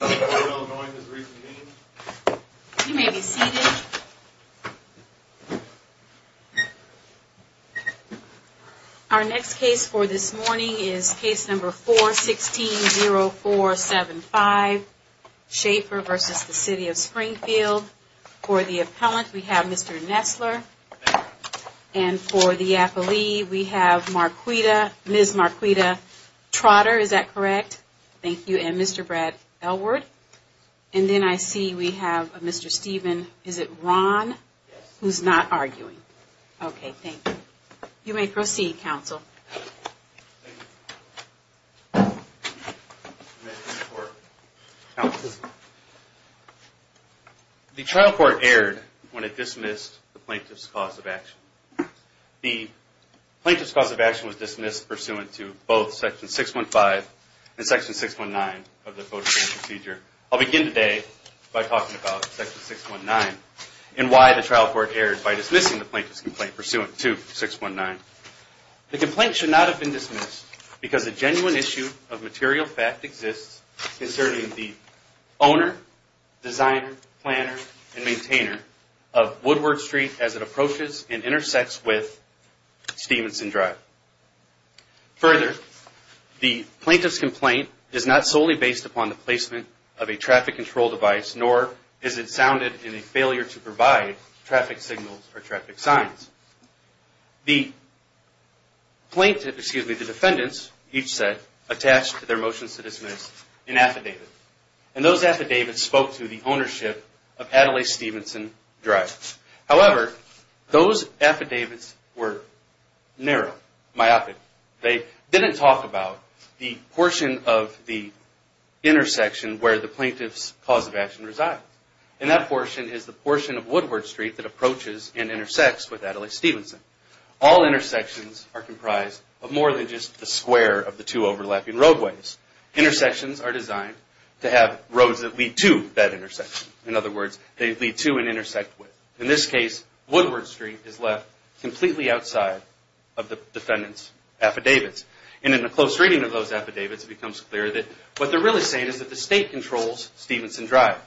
Our next case for this morning is case number 416-0475, Shafer v. City of Springfield. For the appellant, we have Mr. Nessler. And for the appellee, we have Ms. Marquita Trotter, is that correct? Thank you. And Mr. Brad Elworth. And then I see we have a Mr. Steven, is it Ron, who's not arguing? Okay, thank you. You may proceed, counsel. The trial court erred when it dismissed the plaintiff's cause of action. The plaintiff's cause of action was dismissed pursuant to both Section 615 and Section 619 of the Photo Exchange Procedure. I'll begin today by talking about Section 619 and why the trial court erred by dismissing the plaintiff's complaint pursuant to 619. The complaint should not have been dismissed because a genuine issue of material fact exists concerning the owner, designer, planner, and maintainer of Woodward Street as it approaches and intersects with Stevenson Drive. Further, the plaintiff's complaint is not solely based upon the placement of a traffic control device, nor is it sounded in a failure to provide traffic signals or traffic signs. The plaintiff, excuse me, the defendants, each said, attached their motions to dismiss in affidavits. And those affidavits spoke to the ownership of Adelaide Stevenson Drive. However, those affidavits were narrow, myopic. They didn't talk about the portion of the intersection where the plaintiff's cause of action resides. And that portion is the portion of Woodward Street that approaches and intersects with Adelaide Stevenson. All intersections are comprised of more than just the square of the two overlapping roadways. Intersections are designed to have roads that lead to that intersection. In other words, they lead to and intersect with. In this case, Woodward Street is left completely outside of the defendant's affidavits. And in the close reading of those affidavits, it becomes clear that what they're really saying is that the state controls Stevenson Drive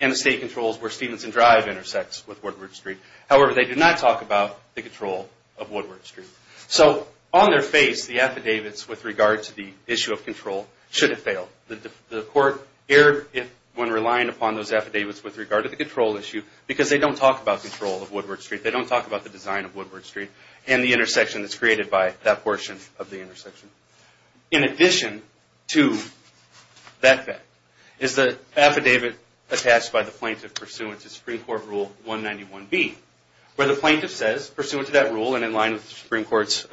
and the state controls where Stevenson Drive intersects with Woodward Street. However, they did not talk about the control of Woodward Street. So on their face, the affidavits with regard to the issue of control should have failed. The court erred when relying upon those affidavits with regard to the control issue because they don't talk about control of Woodward Street. They don't talk about the design of Woodward Street and the intersection that's created by that portion of the intersection. In addition to that fact, is the affidavit attached by the plaintiff pursuant to Supreme Court Rule 191B, where the plaintiff says, pursuant to that rule and in line with the Supreme Court's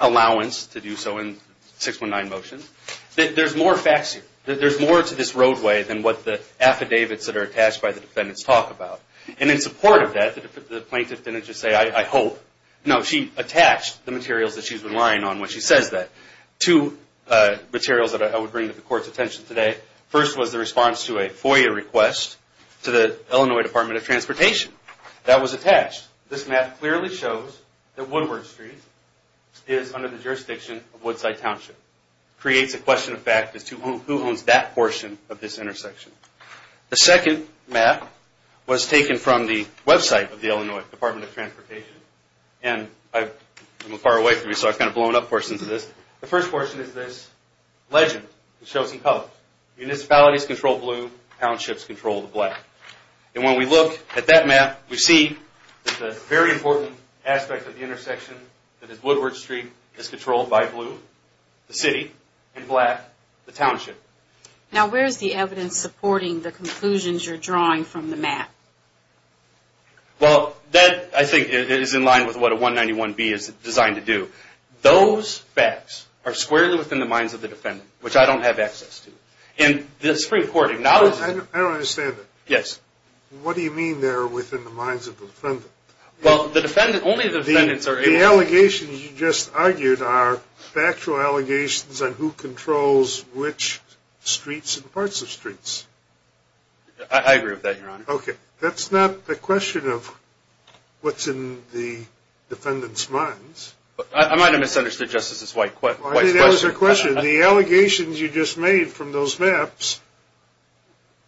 allowance to do so in 619 motion, that there's more to this roadway than what the affidavits that are attached by the defendants talk about. And in support of that, the plaintiff didn't just say, I hope. No, she attached the materials that she's relying on when she says that. Two materials that I would bring to the court's attention today. First was the response to a FOIA request to the Illinois Department of Transportation. That was attached. This map clearly shows that Woodward Street is under the jurisdiction of Woodside Township. Creates a question of fact as to who owns that portion of this intersection. The second map was taken from the website of the Illinois Department of Transportation. And I'm a little far away from you, so I've kind of blown up portions of this. The first portion is this legend that shows some colors. Municipalities control blue. Townships control the black. And when we look at that map, we see that the very important aspect of the intersection that is Woodward Street is controlled by blue, the city, and black, the township. Now, where is the evidence supporting the conclusions you're drawing from the map? Well, that, I think, is in line with what a 191B is designed to do. Those facts are squarely within the minds of the defendant, which I don't have access to. And this Supreme Court acknowledges... I don't understand it. Yes. What do you mean they're within the minds of the defendant? Well, the defendant, only the defendants are able... I agree with that, Your Honor. Okay. That's not the question of what's in the defendant's minds. I might have misunderstood Justice White's question. I think that was your question. The allegations you just made from those maps,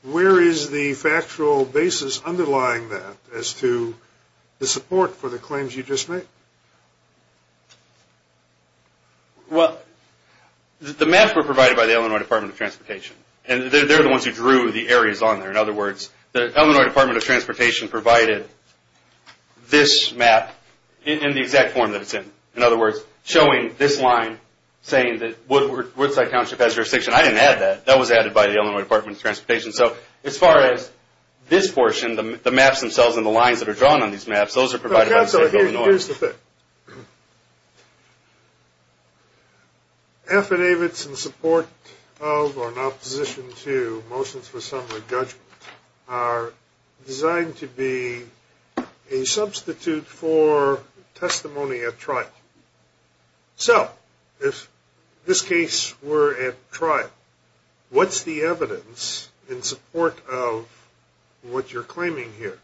where is the factual basis underlying that as to the support for the claims you just made? Well, the maps were provided by the Illinois Department of Transportation. And they're the ones who drew the areas on there. In other words, the Illinois Department of Transportation provided this map in the exact form that it's in. In other words, showing this line saying that Woodside Township has jurisdiction. I didn't add that. That was added by the Illinois Department of Transportation. So, as far as this portion, the maps themselves and the lines that are drawn on these maps, those are provided by the state of Illinois. Here's the thing. Affidavits in support of or in opposition to motions for summary judgment are designed to be a substitute for testimony at trial. So, if in this case we're at trial, what's the evidence in support of what you're claiming here?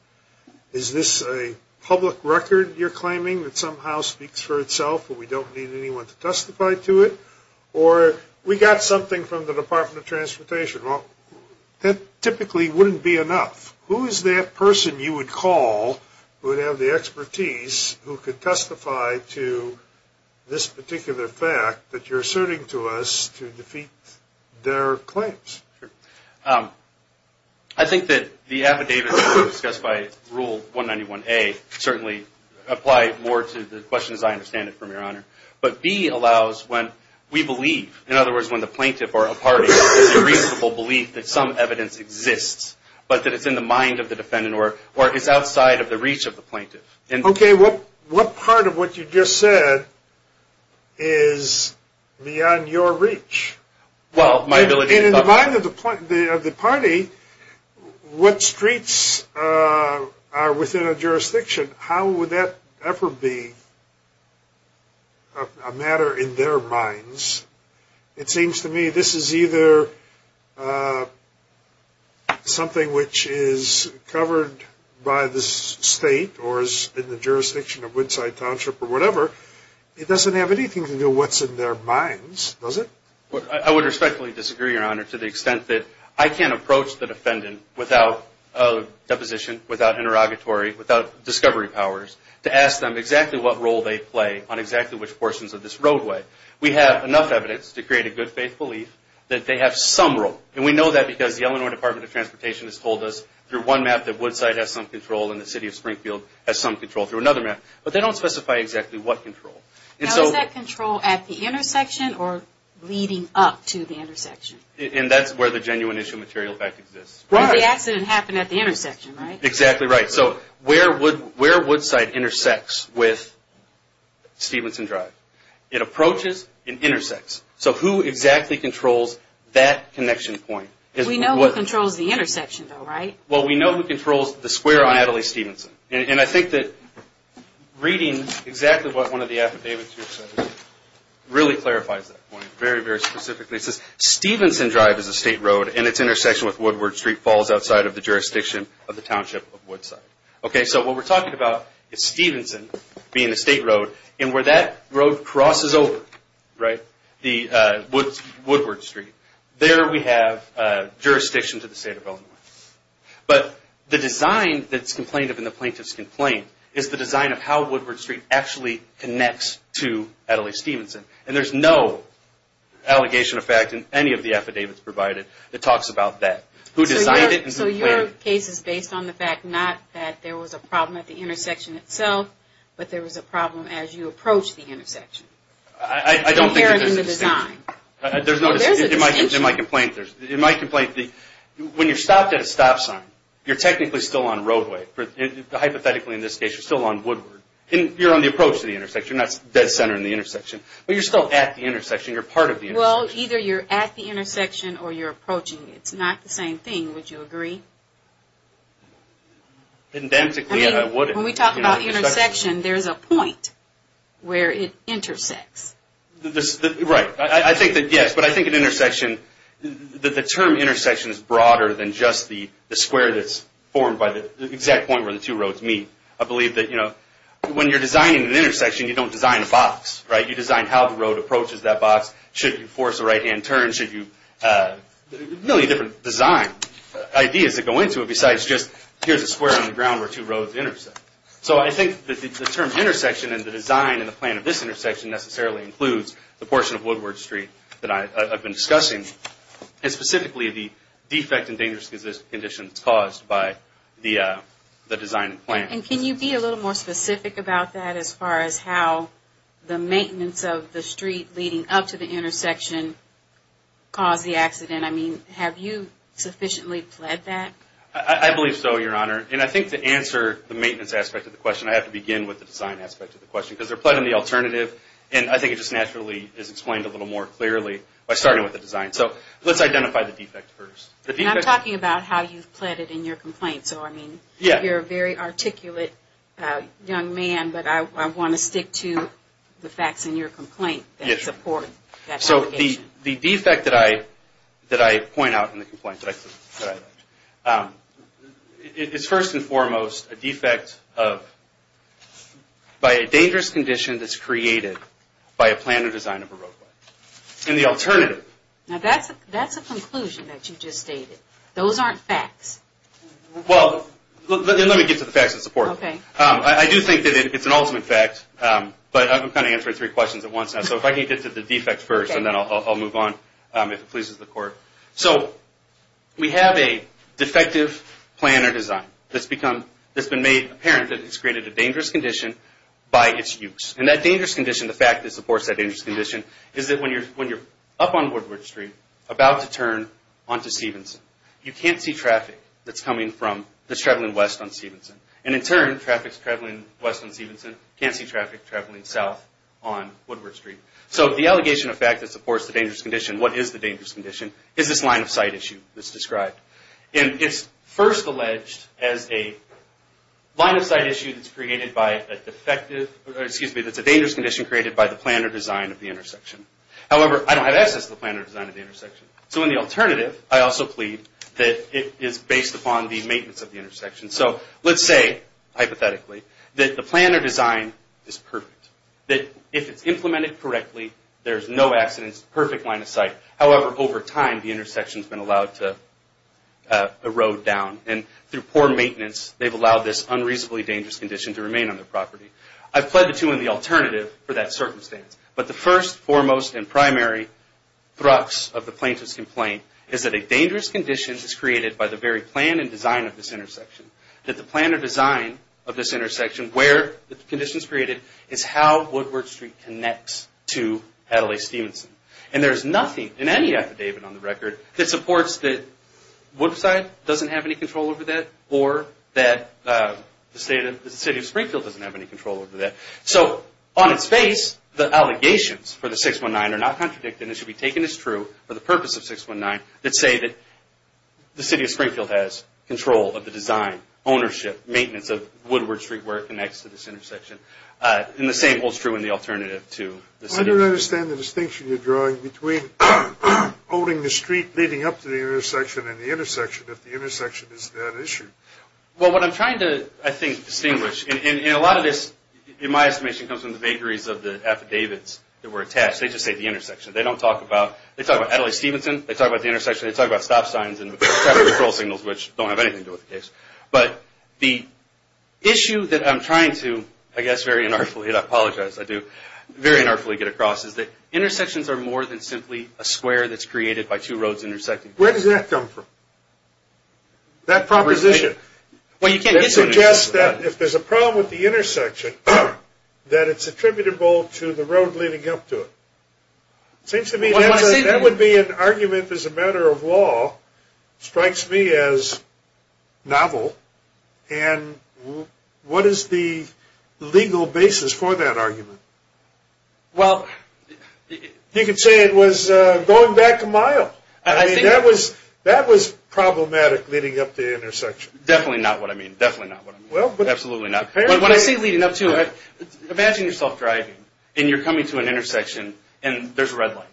Is this a public record you're claiming that somehow speaks for itself and we don't need anyone to testify to it? Or we got something from the Department of Transportation. Well, that typically wouldn't be enough. Who is that person you would call who would have the expertise who could testify to this particular fact that you're asserting to us to defeat their claims? I think that the affidavits discussed by Rule 191A certainly apply more to the question as I understand it, Your Honor. But B allows when we believe, in other words, when the plaintiff or a party has a reasonable belief that some evidence exists, but that it's in the mind of the defendant or is outside of the reach of the plaintiff. Okay, what part of what you just said is beyond your reach? And in the mind of the party, what streets are within a jurisdiction? How would that ever be a matter in their minds? It seems to me this is either something which is covered by the state or is in the jurisdiction of Woodside Township or whatever. It doesn't have anything to do with what's in their minds, does it? I would respectfully disagree, Your Honor, to the extent that I can't approach the defendant without deposition, without interrogatory, without discovery powers to ask them exactly what role they play on exactly which portions of this roadway. We have enough evidence to create a good faith belief that they have some role. And we know that because the Illinois Department of Transportation has told us through one map that Woodside has some control and the city of Springfield has some control through another map. But they don't specify exactly what control. Now, is that control at the intersection or leading up to the intersection? And that's where the genuine issue of material effect exists. The accident happened at the intersection, right? Exactly right. So where would Woodside intersects with Stevenson Drive? It approaches and intersects. So who exactly controls that connection point? We know who controls the intersection, though, right? Well, we know who controls the square on Adelaide-Stevenson. And I think that reading exactly what one of the affidavits here says really clarifies that point very, very specifically. It says, Stevenson Drive is a state road and its intersection with Woodward Street falls outside of the jurisdiction of the township of Woodside. Okay, so what we're talking about is Stevenson being a state road, and where that road crosses over, right, the Woodward Street, there we have jurisdiction to the state of Illinois. But the design that's complained of in the plaintiff's complaint is the design of how Woodward Street actually connects to Adelaide-Stevenson. And there's no allegation of fact in any of the affidavits provided that talks about that. So your case is based on the fact not that there was a problem at the intersection itself, but there was a problem as you approached the intersection. I don't think there's a distinction. There's a distinction. It might complain that when you're stopped at a stop sign, you're technically still on roadway. Hypothetically, in this case, you're still on Woodward. You're on the approach to the intersection. You're not dead center in the intersection. But you're still at the intersection. You're part of the intersection. Well, either you're at the intersection or you're approaching. It's not the same thing. Would you agree? Indemnically, I wouldn't. When we talk about intersection, there's a point where it intersects. Right. I think that, yes. But I think an intersection, the term intersection is broader than just the square that's formed by the exact point where the two roads meet. I believe that when you're designing an intersection, you don't design a box. You design how the road approaches that box. Should you force a right-hand turn? Should you? A million different design ideas that go into it besides just here's a square on the ground where two roads intersect. So I think the term intersection and the design and the plan of this intersection necessarily includes the portion of Woodward Street that I've been discussing. And specifically, the defect and dangerous conditions caused by the design and plan. And can you be a little more specific about that as far as how the maintenance of the street leading up to the intersection caused the accident? I mean, have you sufficiently fled that? I believe so, Your Honor. And I think to answer the maintenance aspect of the question, I have to begin with the design aspect of the question. Because they're pledging the alternative, and I think it just naturally is explained a little more clearly by starting with the design. So let's identify the defect first. And I'm talking about how you've pledged it in your complaint. So, I mean, you're a very articulate young man, but I want to stick to the facts in your complaint that support that obligation. The defect that I point out in the complaint that I pledged is first and foremost a defect by a dangerous condition that's created by a plan or design of a roadway. And the alternative... Now, that's a conclusion that you just stated. Those aren't facts. Well, let me get to the facts that support it. I do think that it's an ultimate fact, but I'm kind of answering three questions at once now. So if I can get to the defect first, and then I'll move on if it pleases the Court. So we have a defective plan or design that's been made apparent that it's created a dangerous condition by its use. And that dangerous condition, the fact that it supports that dangerous condition, is that when you're up on Woodward Street, about to turn onto Stevenson, you can't see traffic that's coming from...that's traveling west on Stevenson. And in turn, traffic's traveling west on Stevenson, can't see traffic traveling south on Woodward Street. So the allegation of fact that supports the dangerous condition, what is the dangerous condition, is this line of sight issue that's described. And it's first alleged as a line of sight issue that's created by a defective... excuse me, that's a dangerous condition created by the plan or design of the intersection. However, I don't have access to the plan or design of the intersection. So in the alternative, I also plead that it is based upon the maintenance of the intersection. So let's say, hypothetically, that the plan or design is perfect. That if it's implemented correctly, there's no accidents, perfect line of sight. However, over time, the intersection's been allowed to erode down. And through poor maintenance, they've allowed this unreasonably dangerous condition to remain on their property. I've pled the two in the alternative for that circumstance. But the first, foremost, and primary thrux of the plaintiff's complaint is that a dangerous condition is created by the very plan and design of this intersection. That the plan or design of this intersection, where the condition's created, is how Woodward Street connects to Adelaide-Stevenson. And there's nothing in any affidavit on the record that supports that Woodside doesn't have any control over that or that the state of Springfield doesn't have any control over that. So on its face, the allegations for the 619 are not contradicted and should be taken as true for the purpose of 619 that say that the city of Springfield has control of the design, ownership, maintenance of Woodward Street where it connects to this intersection. And the same holds true in the alternative to the city of Springfield. I don't understand the distinction you're drawing between owning the street leading up to the intersection and the intersection, if the intersection is that issue. Well, what I'm trying to, I think, distinguish, and a lot of this, in my estimation, comes from the vagaries of the affidavits that were attached. They just say the intersection. They don't talk about, they talk about Adelaide-Stevenson. They talk about the intersection. They talk about stop signs and traffic control signals, which don't have anything to do with the case. But the issue that I'm trying to, I guess, very unartfully, and I apologize, I do, very unartfully get across is that intersections are more than simply a square that's created by two roads intersecting. Where does that come from, that proposition? Well, you can't get to it. It seems to me that would be an argument, as a matter of law, strikes me as novel. And what is the legal basis for that argument? Well, you could say it was going back a mile. I mean, that was problematic leading up to the intersection. Definitely not what I mean. Definitely not what I mean. Absolutely not. But what I see leading up to it, imagine yourself driving, and you're coming to an intersection, and there's a red light.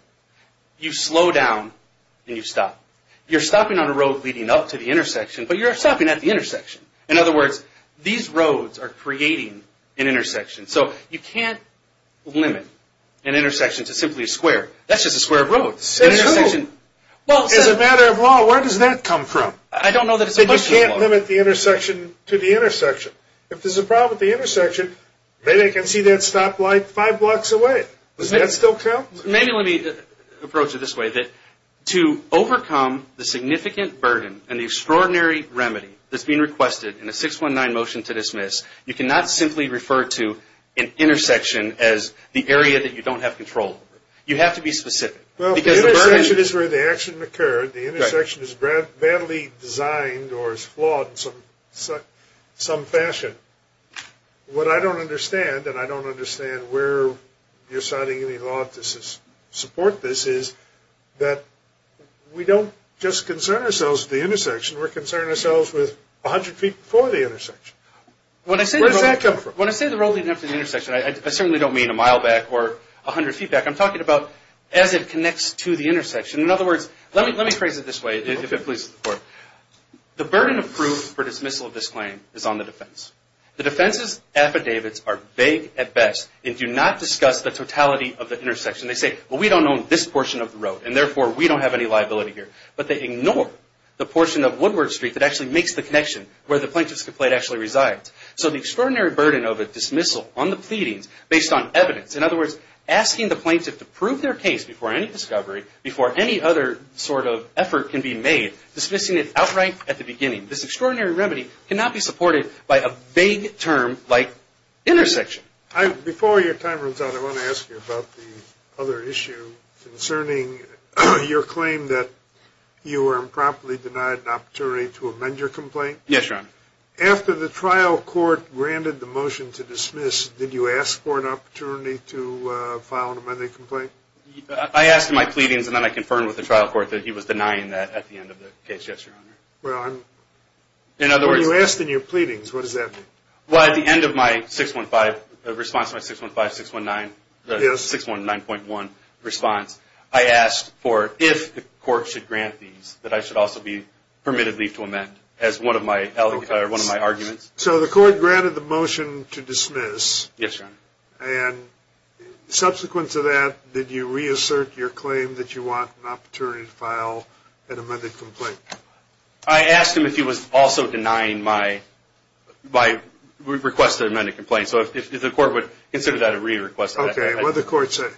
You slow down, and you stop. You're stopping on a road leading up to the intersection, but you're stopping at the intersection. In other words, these roads are creating an intersection. So you can't limit an intersection to simply a square. That's just a square of roads. That's true. As a matter of law, where does that come from? I don't know that it's a question of law. They can't limit the intersection to the intersection. If there's a problem with the intersection, maybe I can see that stoplight five blocks away. Does that still count? Maybe let me approach it this way, that to overcome the significant burden and the extraordinary remedy that's being requested in a 619 motion to dismiss, you cannot simply refer to an intersection as the area that you don't have control over. You have to be specific. Well, the intersection is where the action occurred. The intersection is badly designed or is flawed in some fashion. What I don't understand, and I don't understand where you're signing any law to support this, is that we don't just concern ourselves with the intersection. We're concerned ourselves with 100 feet before the intersection. Where does that come from? When I say the road leading up to the intersection, I certainly don't mean a mile back or 100 feet back. I'm talking about as it connects to the intersection. In other words, let me phrase it this way, if it pleases the Court. The burden of proof for dismissal of this claim is on the defense. The defense's affidavits are vague at best and do not discuss the totality of the intersection. They say, well, we don't own this portion of the road, and therefore we don't have any liability here. But they ignore the portion of Woodward Street that actually makes the connection where the plaintiff's complaint actually resides. So the extraordinary burden of a dismissal on the pleadings based on evidence, in other words, asking the plaintiff to prove their case before any discovery, before any other sort of effort can be made, dismissing it outright at the beginning. This extraordinary remedy cannot be supported by a vague term like intersection. Before your time runs out, I want to ask you about the other issue concerning your claim that you were improperly denied an opportunity to amend your complaint. Yes, Your Honor. After the trial court granted the motion to dismiss, did you ask for an opportunity to file an amending complaint? I asked in my pleadings, and then I confirmed with the trial court that he was denying that at the end of the case. Yes, Your Honor. Well, I'm... In other words... When you asked in your pleadings, what does that mean? Well, at the end of my 615 response, my 615-619, the 619.1 response, I asked for if the court should grant these, that I should also be permitted leave to amend as one of my arguments. So the court granted the motion to dismiss. Yes, Your Honor. And subsequent to that, did you reassert your claim that you want an opportunity to file an amended complaint? I asked him if he was also denying my request to amend a complaint. So if the court would consider that a re-request... Okay. What did the court say?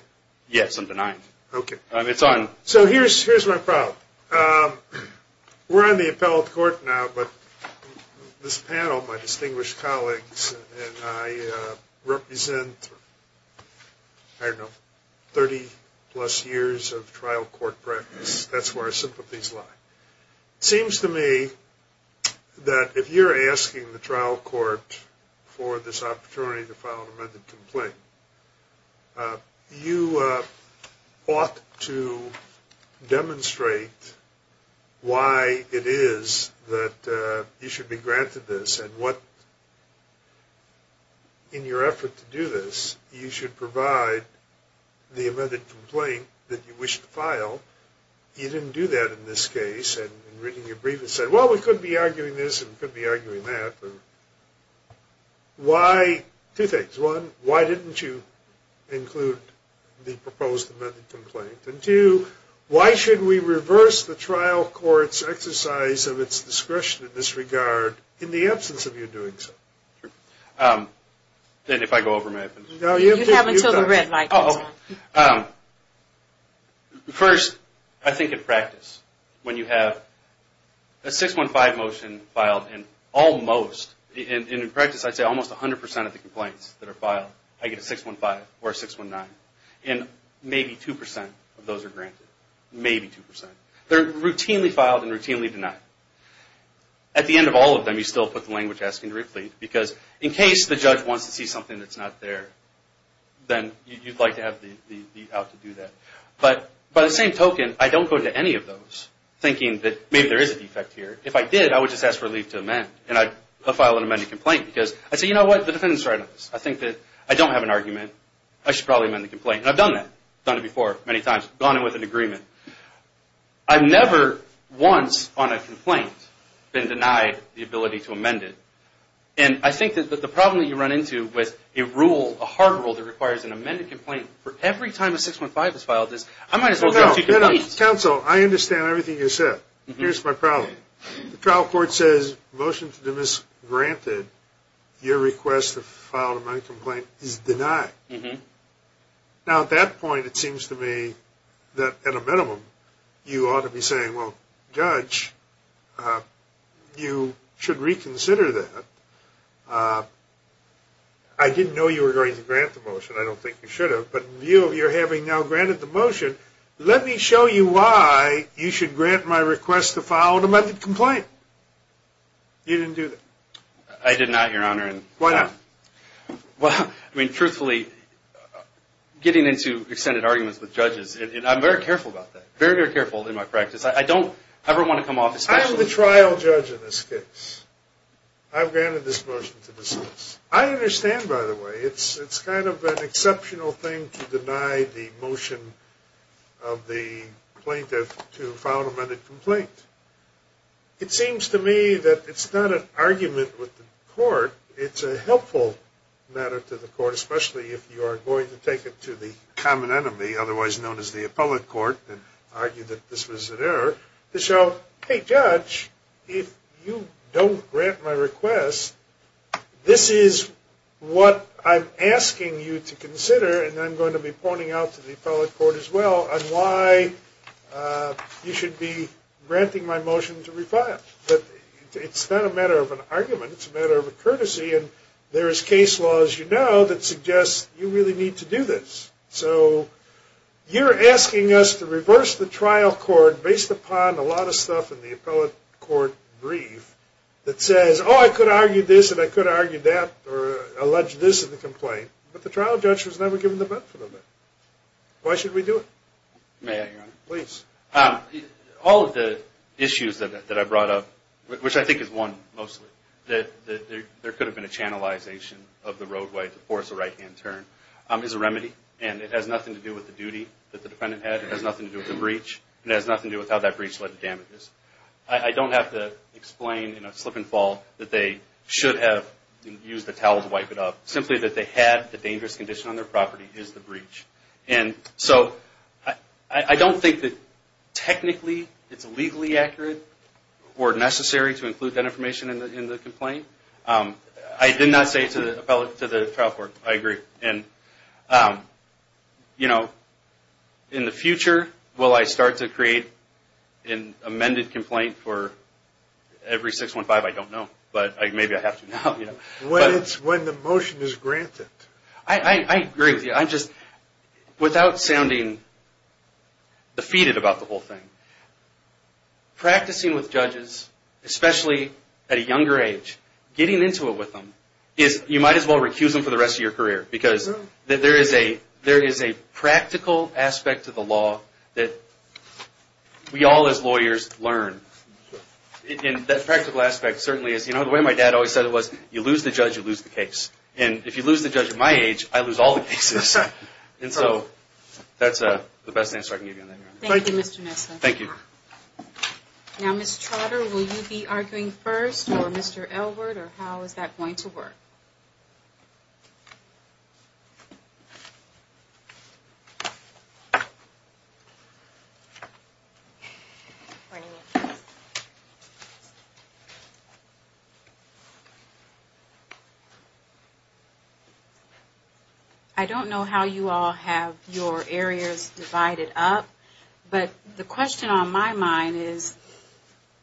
Yes, I'm denying it. Okay. It's on. So here's my problem. We're on the appellate court now, but this panel, my distinguished colleagues, and I represent, I don't know, 30-plus years of trial court practice. That's where our sympathies lie. It seems to me that if you're asking the trial court for this opportunity to file an amended complaint, you ought to demonstrate why it is that you should be granted this and what, in your effort to do this, you should provide the amended complaint that you wish to file. You didn't do that in this case. And in reading your brief, it said, well, we could be arguing this and could be arguing that. But why? Two things. One, why didn't you include the proposed amended complaint? And two, why should we reverse the trial court's exercise of its discretion in this regard in the absence of you doing so? Then if I go over, may I finish? You have until the red light goes on. First, I think in practice, when you have a 615 motion filed, and in practice I'd say almost 100% of the complaints that are filed, I get a 615 or a 619. And maybe 2% of those are granted. Maybe 2%. They're routinely filed and routinely denied. At the end of all of them, you still put the language asking to re-plead, because in case the judge wants to see something that's not there, then you'd like to have the out to do that. But by the same token, I don't go to any of those thinking that maybe there is a defect here. If I did, I would just ask for a leave to amend, and I'd file an amended complaint. Because I'd say, you know what? The defendant's right on this. I think that I don't have an argument. I should probably amend the complaint. And I've done that. I've done it before many times, gone in with an agreement. I've never once on a complaint been denied the ability to amend it. And I think that the problem that you run into with a rule, a hard rule that requires an amended complaint, for every time a 615 is filed is, I might as well have two complaints. Counsel, I understand everything you said. Here's my problem. The trial court says, motion to dismiss granted. Your request to file an amended complaint is denied. Now, at that point, it seems to me that, at a minimum, you ought to be saying, well, Judge, you should reconsider that. I didn't know you were going to grant the motion. I don't think you should have. But in view of your having now granted the motion, let me show you why you should grant my request to file an amended complaint. You didn't do that. I did not, Your Honor. Why not? Well, I mean, truthfully, getting into extended arguments with judges, and I'm very careful about that, very, very careful in my practice. I don't ever want to come off as special. I am the trial judge in this case. I've granted this motion to dismiss. I understand, by the way, it's kind of an exceptional thing to deny the motion of the plaintiff to file an amended complaint. It's a helpful matter to the court, especially if you are going to take it to the common enemy, otherwise known as the appellate court, and argue that this was an error to show, hey, Judge, if you don't grant my request, this is what I'm asking you to consider, and I'm going to be pointing out to the appellate court as well, on why you should be granting my motion to refile. But it's not a matter of an argument. It's a matter of a courtesy, and there is case law, as you know, that suggests you really need to do this. So you're asking us to reverse the trial court based upon a lot of stuff in the appellate court brief that says, oh, I could argue this and I could argue that or allege this in the complaint, but the trial judge was never given the benefit of it. Why should we do it? May I, Your Honor? Please. All of the issues that I brought up, which I think is one mostly, that there could have been a channelization of the roadway to force a right-hand turn, is a remedy, and it has nothing to do with the duty that the defendant had. It has nothing to do with the breach, and it has nothing to do with how that breach led to damages. I don't have to explain in a slip and fall that they should have used the towel to wipe it up. Simply that they had the dangerous condition on their property is the breach. And so I don't think that technically it's legally accurate or necessary to include that information in the complaint. I did not say to the appellate, to the trial court, I agree. And you know, in the future, will I start to create an amended complaint for every 615? I don't know, but maybe I have to now. When the motion is granted. I agree with you. I'm just, without sounding defeated about the whole thing, practicing with judges, especially at a younger age, getting into it with them is, you might as well recuse them for the rest of your career, because there is a practical aspect to the law that we all as lawyers learn. And that practical aspect certainly is, you know, the way my dad always said it was, you lose the judge, you lose the case. And if you lose the judge at my age, I lose all the cases. And so that's the best answer I can give you on that matter. Thank you, Mr. Nesslin. Thank you. Now, Ms. Trotter, will you be arguing first, or Mr. Elbert, or how is that going to work? I don't know how you all have your areas divided up. But the question on my mind is,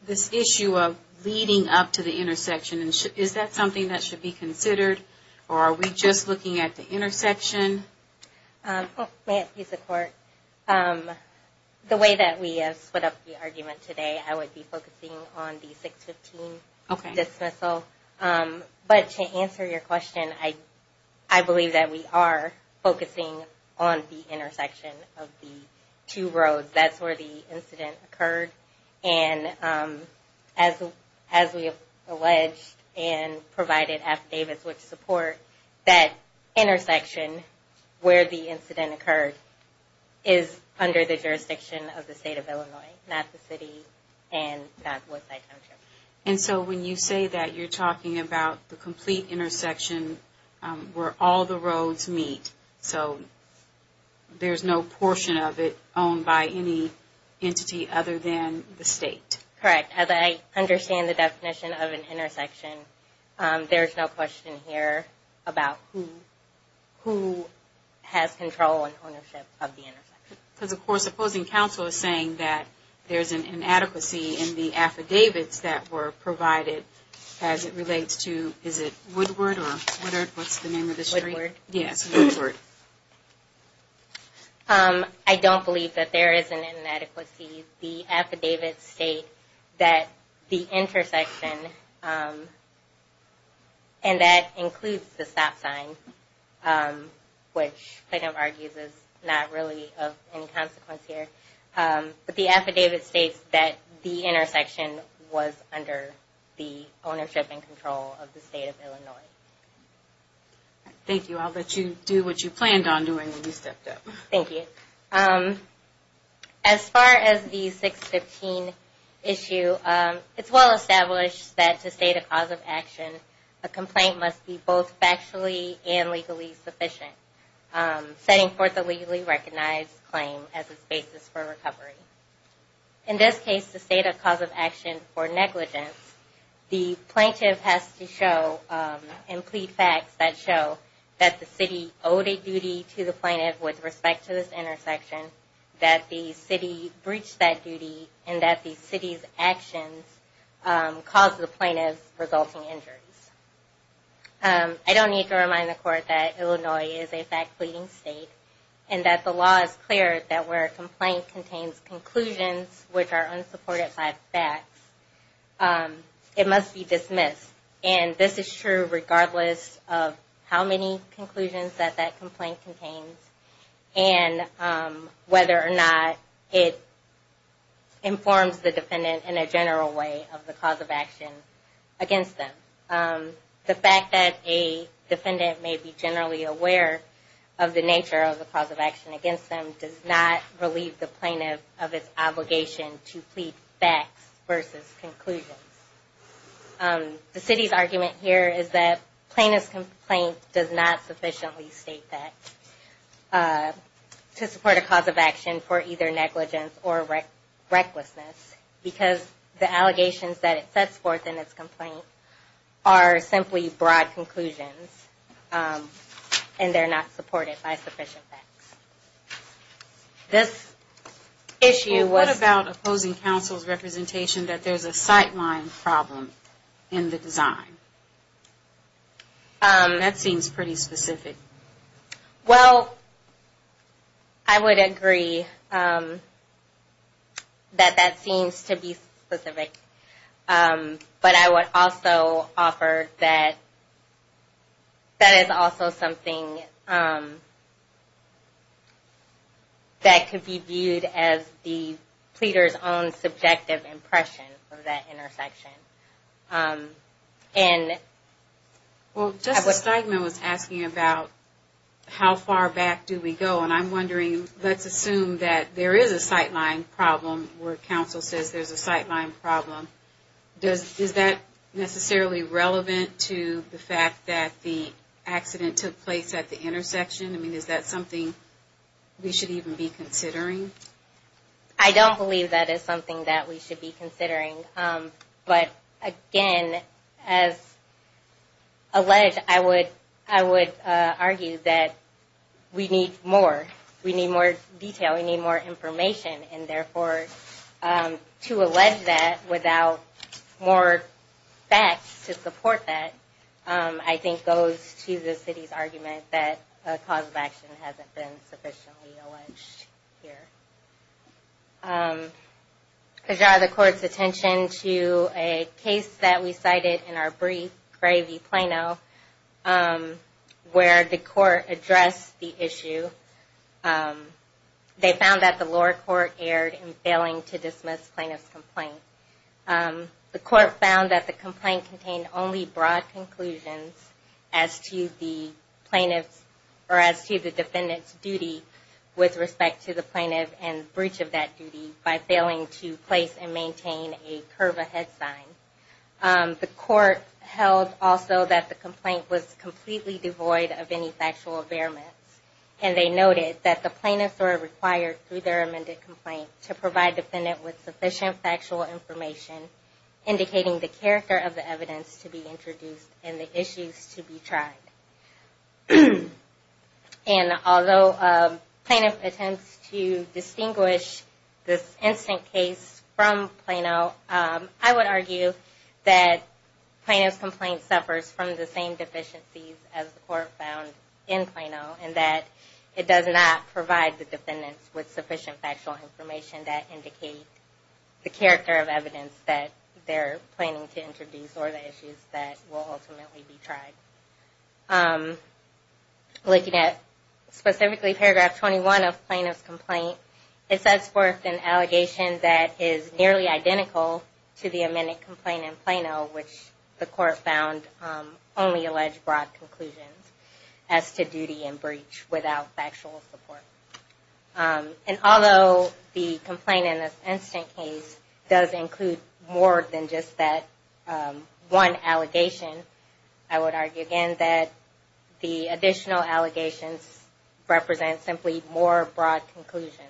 this issue of leading up to the intersection, is that something that should be considered? Or are we just looking at the intersection? May I speak to the court? The way that we have split up the argument today, I would be focusing on the 615 dismissal. But to answer your question, I believe that we are focusing on the intersection of the two roads. That's where the incident occurred. And as we have alleged and provided affidavits with support, that intersection where the incident occurred is under the jurisdiction of the state of Illinois, not the city and not Woodside Township. And so when you say that, you're talking about the complete intersection where all the roads meet. So there's no portion of it owned by any entity other than the state. Correct. As I understand the definition of an intersection, there's no question here about who has control and ownership of the intersection. Because, of course, opposing counsel is saying that there's an inadequacy in the affidavits that were provided as it relates to, is it Woodward or what's the name of the street? Woodward. Yes, Woodward. I don't believe that there is an inadequacy. The affidavits state that the intersection, and that includes the stop sign, which Plano argues is not really of any consequence here. But the affidavit states that the intersection was under the ownership and control of the state of Illinois. Thank you. I'll let you do what you planned on doing when you stepped up. Thank you. As far as the 615 issue, it's well established that to state a cause of action, a complaint must be both factually and legally sufficient, setting forth a legally recognized claim as its basis for recovery. In this case, to state a cause of action for negligence, the plaintiff has to show and plead facts that show that the city owed a duty to the plaintiff with respect to this intersection, that the city breached that duty, and that the city's actions caused the plaintiff resulting injuries. I don't need to remind the court that Illinois is a fact pleading state, and that the law is clear that where a complaint contains conclusions which are unsupported by facts, it must be dismissed. And this is true regardless of how many conclusions that that complaint contains. And whether or not it informs the defendant in a general way of the cause of action against them. The fact that a defendant may be generally aware of the nature of the cause of action against them does not relieve the plaintiff of its obligation to plead facts versus conclusions. The city's argument here is that plaintiff's complaint does not sufficiently state facts to support a cause of action for either negligence or recklessness, because the allegations that it sets forth in its complaint are simply broad conclusions, and they're not supported by sufficient facts. This issue was... Well, what about opposing counsel's representation that there's a sightline problem in the design? That seems pretty specific. Well, I would agree that that seems to be specific. But I would also offer that that is also something that could be viewed as the pleader's own subjective impression of that intersection. Well, Justice Steigman was asking about how far back do we go, and I'm wondering, let's assume that there is a sightline problem where counsel says there's a sightline problem. Is that necessarily relevant to the fact that the accident took place at the intersection? I mean, is that something we should even be considering? I don't believe that is something that we should be considering. But again, as alleged, I would argue that we need more. We need more detail. We need more information, and therefore, to allege that without more facts to support that, I think goes to the city's argument that a cause of action hasn't been sufficiently alleged here. To draw the court's attention to a case that we cited in our brief, Gray v. Plano, where the court addressed the issue. They found that the lower court erred in failing to dismiss plaintiff's complaint. The court found that the complaint contained only broad conclusions as to the defendant's duty with respect to the plaintiff and breach of that duty. By failing to place and maintain a curve ahead sign. The court held also that the complaint was completely devoid of any factual impairments. And they noted that the plaintiffs were required through their amended complaint to provide the defendant with sufficient factual information, indicating the character of the evidence to be introduced and the issues to be tried. And although plaintiff attempts to distinguish this instant case from Plano, I would argue that Plano's complaint suffers from the same deficiencies as the court found in Plano. And that it does not provide the defendants with sufficient factual information that indicate the character of evidence that they're planning to introduce or the issues that will ultimately be tried. Looking at specifically paragraph 21 of Plano's complaint, it sets forth an allegation that is nearly identical to the amended complaint in Plano, which the court found only alleged broad conclusions as to duty and breach without factual support. And although the complaint in this instant case does include more than just that one allegation, I would argue again that the additional allegations represent simply more broad conclusions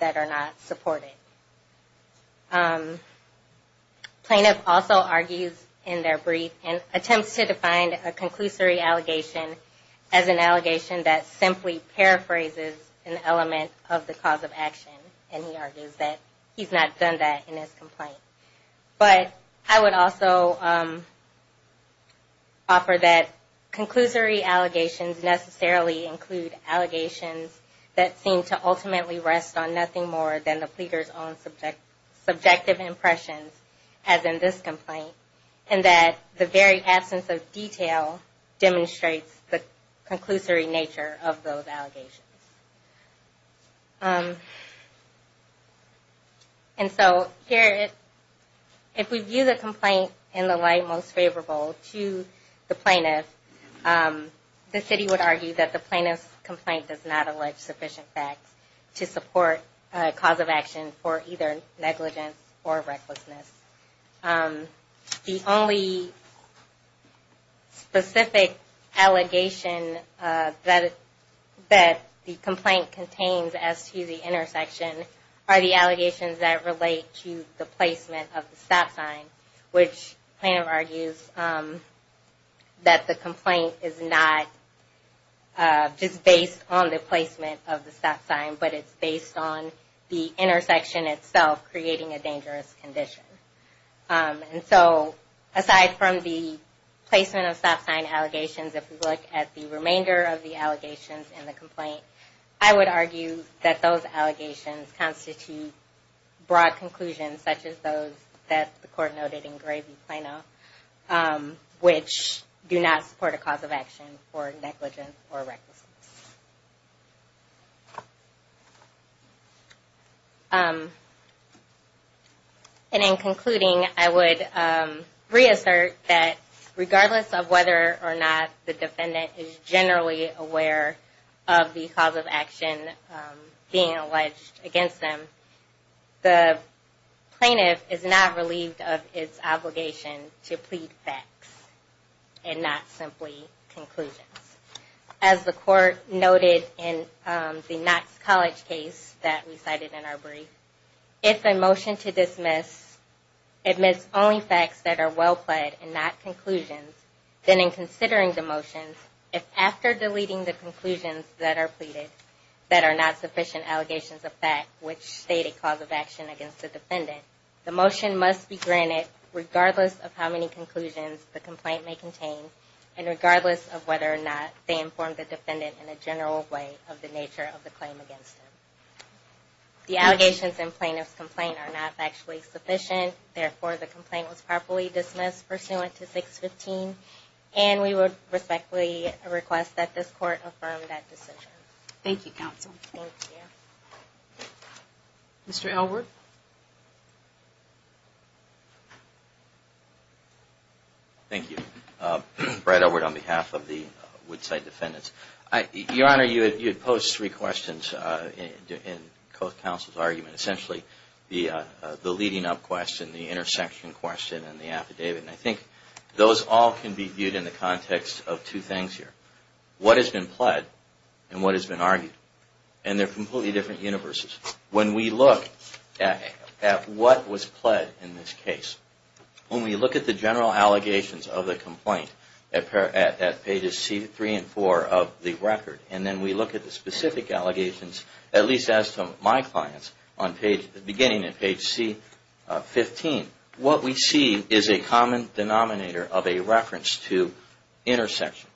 that are not supported. Plano also argues in their brief and attempts to define a conclusory allegation as an allegation that simply paraphrases an element of the cause of action. And he argues that he's not done that in his complaint. He also offers that conclusory allegations necessarily include allegations that seem to ultimately rest on nothing more than the pleader's own subjective impressions, as in this complaint. And that the very absence of detail demonstrates the conclusory nature of those allegations. And so, here, if we view the complaint in the light most favorable to the plaintiff, the city would argue that the plaintiff's complaint does not allege sufficient facts to support a cause of action for either negligence or recklessness. The only specific allegation that is not in the case of the plaintiff is that the plaintiff's complaint does not allege sufficient facts to support a cause of action for either negligence or recklessness. The only allegations that the complaint contains as to the intersection are the allegations that relate to the placement of the stop sign, which Plano argues that the complaint is not just based on the placement of the stop sign, but it's based on the intersection itself creating a dangerous condition. And so, aside from the placement of stop sign allegations, if we look at the remainder of the allegations in the complaint, I would argue that those allegations constitute broad conclusions, such as those that the court noted in Gray v. Plano, which do not support a cause of action for negligence or recklessness. And in concluding, I would reassert that regardless of whether or not the defendant is generally aware of the cause of action being alleged against them, the plaintiff is not relieved of its obligation to plead facts and not simply conclusions. As the court noted in the Knox College case that we cited in our brief, if a motion to dismiss admits only facts that are well-played and not conclusions, then in considering the motion, if after deleting the conclusions that are pleaded that are not sufficient allegations of fact, which state a cause of action against the defendant, the motion must be granted regardless of how many conclusions the complaint may contain and regardless of whether or not the defendant is aware of the cause of action. And if not, they inform the defendant in a general way of the nature of the claim against them. The allegations in Plano's complaint are not factually sufficient. Therefore, the complaint was properly dismissed pursuant to 615. And we would respectfully request that this court affirm that decision. Thank you, Counsel. Thank you. Mr. Elwood? Thank you. Brad Elwood on behalf of the Woodside Defendants. Your Honor, you had posed three questions in both Counsel's argument. Essentially, the leading up question, the intersection question and the affidavit. And I think those all can be viewed in the context of two things here. What has been pled and what has been argued. And they're completely different universes. When we look at what was pled in this case, when we look at the general allegations of the complaint at pages C3 and C4 of the record, and then we look at the specific allegations, at least as to my clients, beginning at page C15, what we see is a common denominator of a reference to intersection,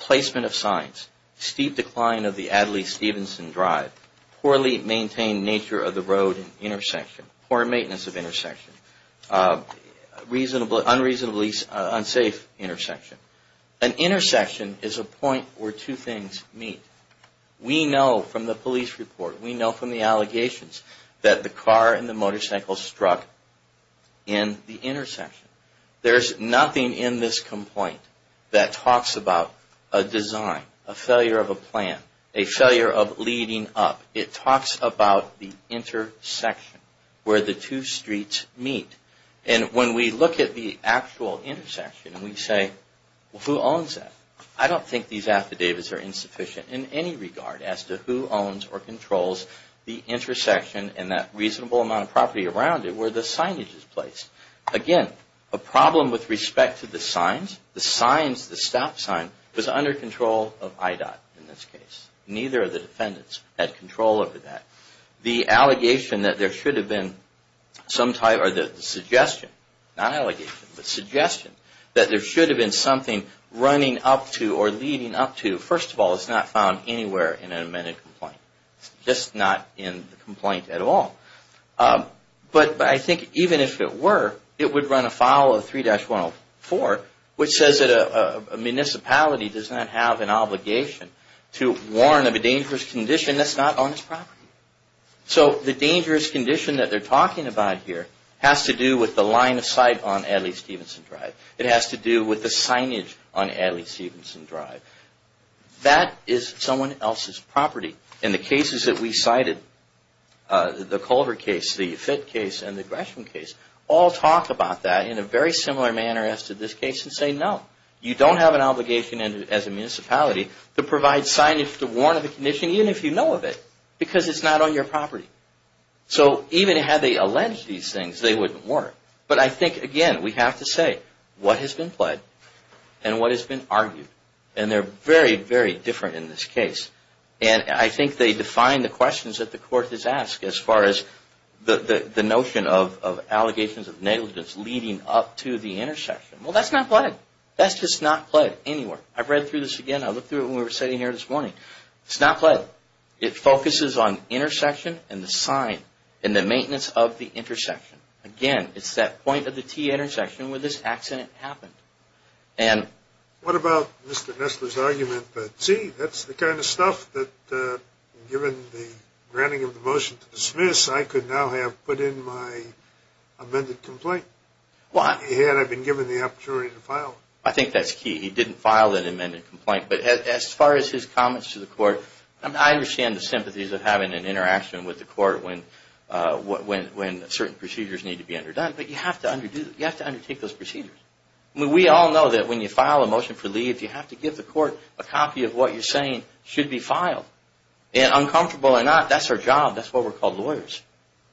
placement of signs, steep decline of the Adlai Stevenson Drive, poorly maintained roadway, and a number of other issues. In this case it's the intersection. Poorly maintained nature of the road intersection. Poor maintenance of intersection. Unreasonably unsafe intersection. An intersection is a point where two things meet. We know from the police report. We know from the allegations that the car and the motorcycle struck in the intersection. There's nothing in this complaint that talks about a design, a failure of a plan, a failure of leading up. It talks about the intersection where the two streets meet. And when we look at the actual intersection and we say, who owns that? I don't think these affidavits are insufficient in any regard as to who owns or controls the intersection and that reasonable amount of property around it where the signage is placed. Again, a problem with respect to the signs. The stop sign was under control of IDOT in this case. Neither of the defendants had control over that. The suggestion that there should have been something running up to or leading up to, first of all, is not found anywhere in an amended complaint. Just not in the complaint at all. But I think even if it were, it would run afoul of 3-104 which says that a municipality does not have an obligation to warn of a dangerous condition that's not on its property. So the dangerous condition that they're talking about here has to do with the line of sight on Adley-Stevenson Drive. That is someone else's property. And the cases that we cited, the Culver case, the Fitt case and the Gresham case, all talk about that in a very similar manner as to this case and say, no, you don't have an obligation as a municipality to provide signage to warn of a condition even if you know of it because it's not on And they're very, very different in this case. And I think they define the questions that the court has asked as far as the notion of allegations of negligence leading up to the intersection. Well, that's not pled. That's just not pled anywhere. I've read through this again. I looked through it when we were sitting here this morning. It's not pled. It focuses on intersection and the sign and the maintenance of the intersection. Again, it's that point of the T-intersection where this accident happened. And what about Mr. Nestler's argument that, see, that's the kind of stuff that, given the granting of the motion to dismiss, I could now have put in my amended complaint? I think that's key. He didn't file an amended complaint. But as far as his comments to the court, I understand the sympathies of having an interaction with the court when certain procedures need to be underdone. But you have to undertake those procedures. We all know that when you file a motion for leave, you have to give the court a copy of what you're saying should be filed. Uncomfortable or not, that's our job. That's why we're called lawyers.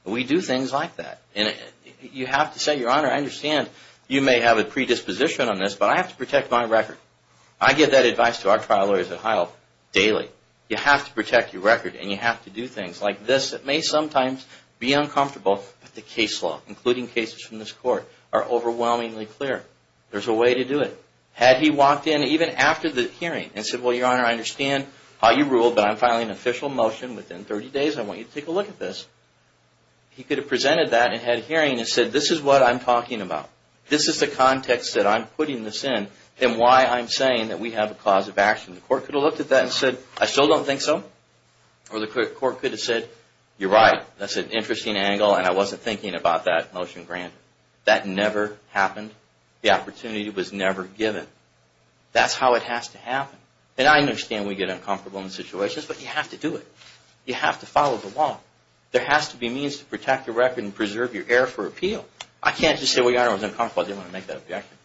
We do things like that. And you have to say, Your Honor, I understand you may have a predisposition on this, but I have to protect my record. I give that advice to our trial lawyers at Hile daily. You have to protect your record and you have to do things like this that may sometimes be uncomfortable, but the case law, including cases from this court, are overwhelmingly clear. There's a way to do it. Had he walked in even after the hearing and said, Well, Your Honor, I understand how you ruled, but I'm filing an official motion within 30 days. I want you to take a look at this. He could have presented that and had a hearing and said, This is what I'm talking about. This is the context that I'm putting this in and why I'm saying that we have a cause of action. The court could have looked at that and said, I still don't think so. Or the court could have said, You're right. That's an interesting angle and I wasn't thinking about that motion granted. That never happened. The opportunity was never given. That's how it has to happen. And I understand we get uncomfortable in situations, but you have to do it. You have to follow the law. There has to be means to protect your record and preserve your air for appeal. I can't just say, Well, Your Honor, I was uncomfortable. I didn't want to make that objection.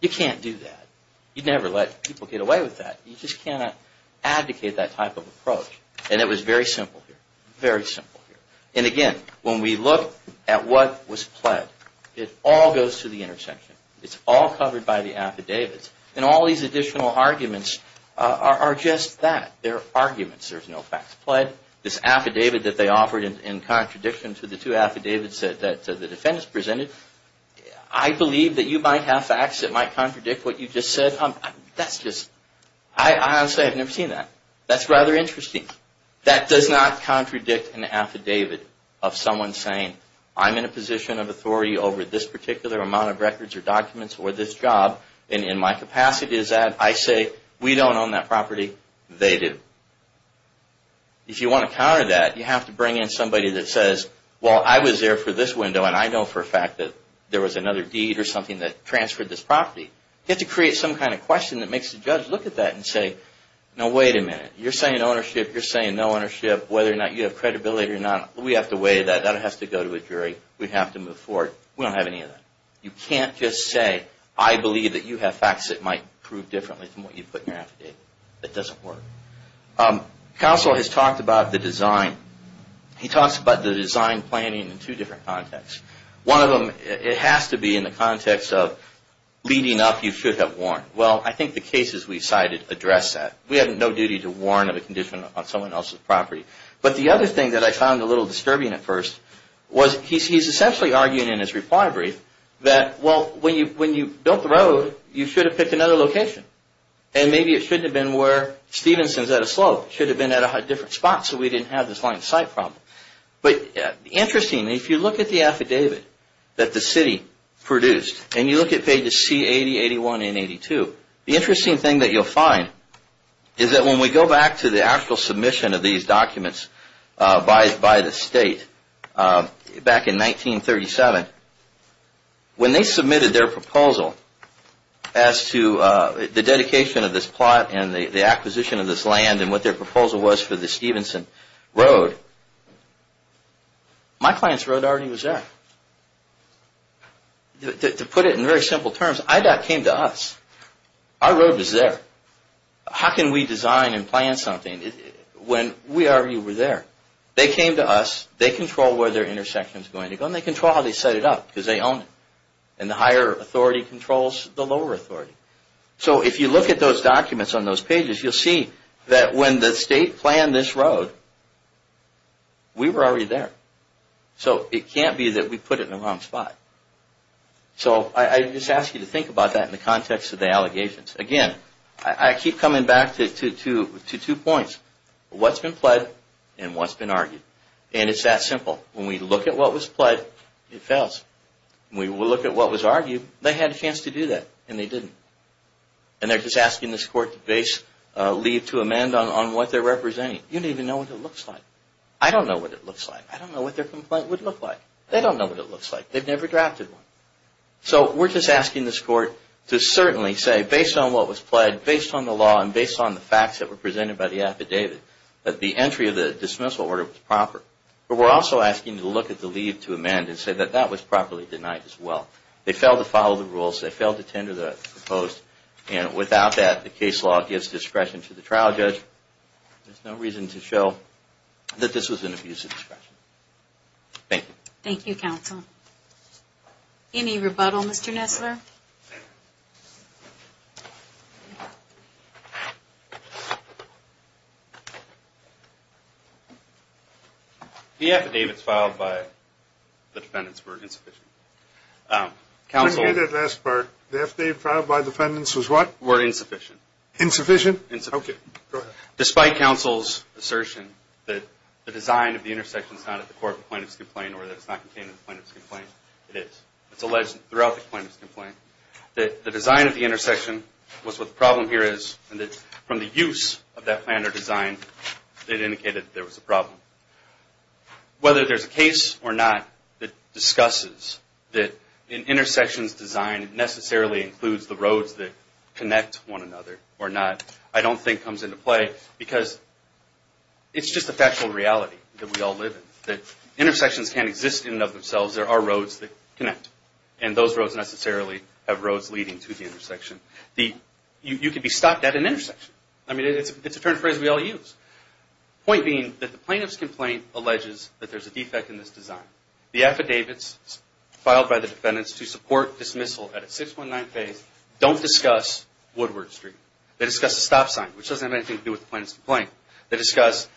You can't do that. You never let people get away with that. You just cannot advocate that type of approach. And it was very simple here. Very simple here. And again, when we look at what was pled, it all goes to the intersection. It's all covered by the affidavits. And all these additional arguments are just that. They're arguments. There's no facts pled. This affidavit that they offered in contradiction to the two affidavits that the defendants presented, I believe that you might have facts that might contradict what you just said. I honestly have never seen that. That's rather interesting. That does not contradict an affidavit of someone saying, I'm in a position of authority over this particular amount of records or documents or this job. And in my capacity is that I say, We don't own that property. They do. If you want to counter that, you have to bring in somebody that says, Well, I was there for this window and I know for a fact that there was another deed or something that transferred this property. You have to create some kind of question that makes the judge look at that and say, No, wait a minute. You're saying ownership. You're saying no ownership. Whether or not you have credibility or not, we have to weigh that. That has to go to a jury. We have to move forward. We don't have any of that. You can't just say, I believe that you have facts that might prove differently from what you put in your affidavit. That doesn't work. Counsel has talked about the design. He talks about the design planning in two different contexts. One of them, it has to be in the context of leading up, you should have warned. Well, I think the cases we cited address that. We have no duty to warn of a condition on someone else's property. But the other thing that I found a little disturbing at first was he's essentially arguing in his reply brief that, Well, when you built the road, you should have picked another location. And maybe it shouldn't have been where Stevenson's at a slope. It should have been at a different spot so we didn't have this line of sight problem. But interestingly, if you look at the affidavit that the city produced, and you look at pages C80, 81, and 82, the interesting thing that you'll find is that when we go back to the actual submission of these documents by the state back in 1937, when they submitted their proposal as to the dedication of this plot and the acquisition of this land and what their proposal was for the Stevenson Road, my client's road already was there. To put it in very simple terms, IDOT came to us. Our road was there. How can we design and plan something when we already were there? They came to us, they control where their intersection is going to go, and they control how they set it up because they own it. And the higher authority controls the lower authority. So if you look at those documents on those pages, you'll see that when the state planned this road, we were already there. So it can't be that we put it in the wrong spot. So I just ask you to think about that in the context of the allegations. Again, I keep coming back to two points. What's been pled and what's been argued. And it's that simple. When we look at what was pled, it fails. When we look at what was argued, they had a chance to do that, and they didn't. And they're just asking this court to leave to amend on what they're representing. You don't even know what it looks like. I don't know what it looks like. I don't know what their complaint would look like. They don't know what it looks like. They've never drafted one. So we're just asking this court to certainly say, based on what was pled, based on the law, and based on the facts that were presented by the affidavit, that the entry of the dismissal order was proper. But we're also asking to look at the leave to amend and say that that was properly denied as well. They failed to follow the rules. They failed to tender the proposed. And without that, the case law gives discretion to the trial judge. There's no reason to show that this was an abuse of discretion. Thank you. Thank you, counsel. Any rebuttal, Mr. Nessler? The affidavits filed by the defendants were insufficient. Let me get that last part. The affidavit filed by the defendants was what? Were insufficient. Insufficient? Insufficient. Okay, go ahead. Despite counsel's assertion that the design of the intersection is not at the core of the plaintiff's complaint or that it's not contained in the plaintiff's complaint, it is. It's alleged throughout the plaintiff's complaint that the design of the intersection was what the problem here is, and that from the use of that plan or design, it indicated there was a problem. Whether there's a case or not that discusses that an intersection's design necessarily includes the roads that connect one another or not, I don't think comes into play because it's just a factual reality that we all live in. Intersections can't exist in and of themselves. There are roads that connect. And those roads necessarily have roads leading to the intersection. You can be stopped at an intersection. I mean, it's a term phrase we all use. Point being that the plaintiff's complaint alleges that there's a defect in this design. The affidavits filed by the defendants to support dismissal at a 619 phase don't discuss Woodward Street. They discuss a stop sign, which doesn't have anything to do with the plaintiff's complaint. They discuss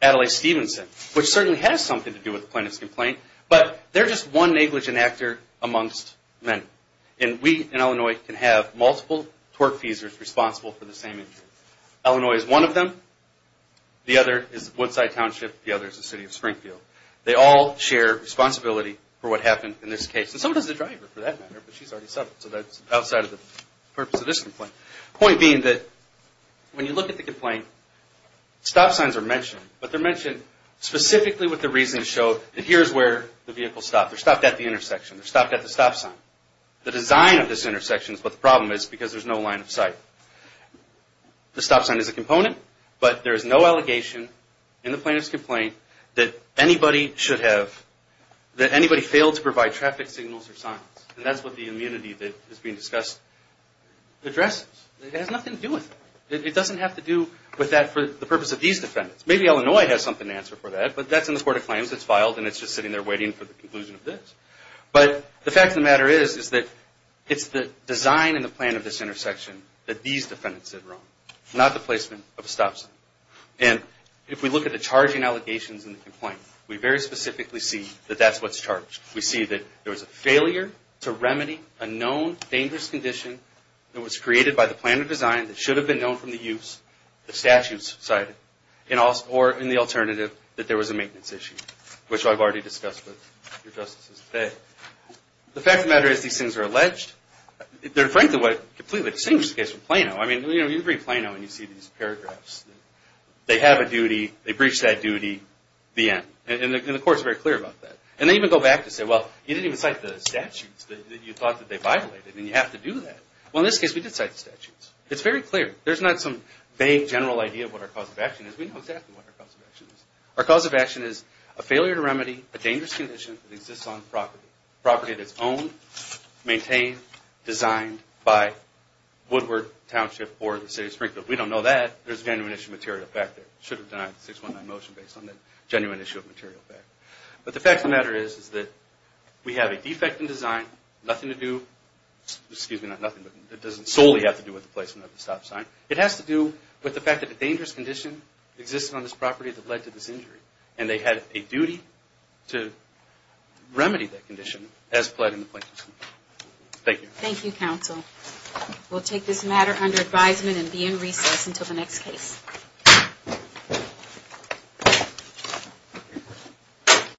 Adelaide Stevenson, which certainly has something to do with the plaintiff's complaint, but they're just one negligent actor amongst many. And we in Illinois can have multiple torque-feasers responsible for the same injury. Illinois is one of them. The other is Woodside Township. The other is the city of Springfield. They all share responsibility for what happened in this case. And so does the driver, for that matter, but she's already settled, so that's outside of the purpose of this complaint. Point being that when you look at the complaint, stop signs are mentioned, but they're mentioned specifically with the reason to show that here's where the vehicle stopped. They're stopped at the intersection. They're stopped at the stop sign. The design of this intersection is what the problem is because there's no line of sight. The stop sign is a component, but there is no allegation in the plaintiff's complaint that anybody should have – that anybody failed to provide traffic signals or signs. And that's what the immunity that is being discussed addresses. It has nothing to do with it. It doesn't have to do with that for the purpose of these defendants. Maybe Illinois has something to answer for that, but that's in the Court of Claims. It's filed and it's just sitting there waiting for the conclusion of this. But the fact of the matter is that it's the design and the plan of this intersection that these defendants did wrong, not the placement of a stop sign. And if we look at the charging allegations in the complaint, we very specifically see that that's what's charged. We see that there was a failure to remedy a known dangerous condition that was created by the plan of design that should have been known from the use, the statutes cited, or in the alternative, that there was a maintenance issue, which I've already discussed with your justices today. The fact of the matter is these things are alleged. They're, frankly, what completely distinguishes the case from Plano. I mean, you read Plano and you see these paragraphs. They have a duty. They breached that duty. The end. And the Court is very clear about that. And they even go back to say, well, you didn't even cite the statutes that you thought that they violated, and you have to do that. Well, in this case, we did cite the statutes. It's very clear. There's not some vague general idea of what our cause of action is. We know exactly what our cause of action is. Our cause of action is a failure to remedy a dangerous condition that exists on property, property that's owned, maintained, designed by Woodward Township or the City of Springfield. We don't know that. There's a genuine issue of material effect there. We should have denied the 619 motion based on the genuine issue of material effect. But the fact of the matter is that we have a defect in design. Nothing to do, excuse me, not nothing, but it doesn't solely have to do with the placement of the stop sign. It has to do with the fact that a dangerous condition existed on this property that led to this injury. And they had a duty to remedy that condition as pled in the plaintiff's name. Thank you. Thank you, Counsel. We'll take this matter under advisement and be in recess until the next case.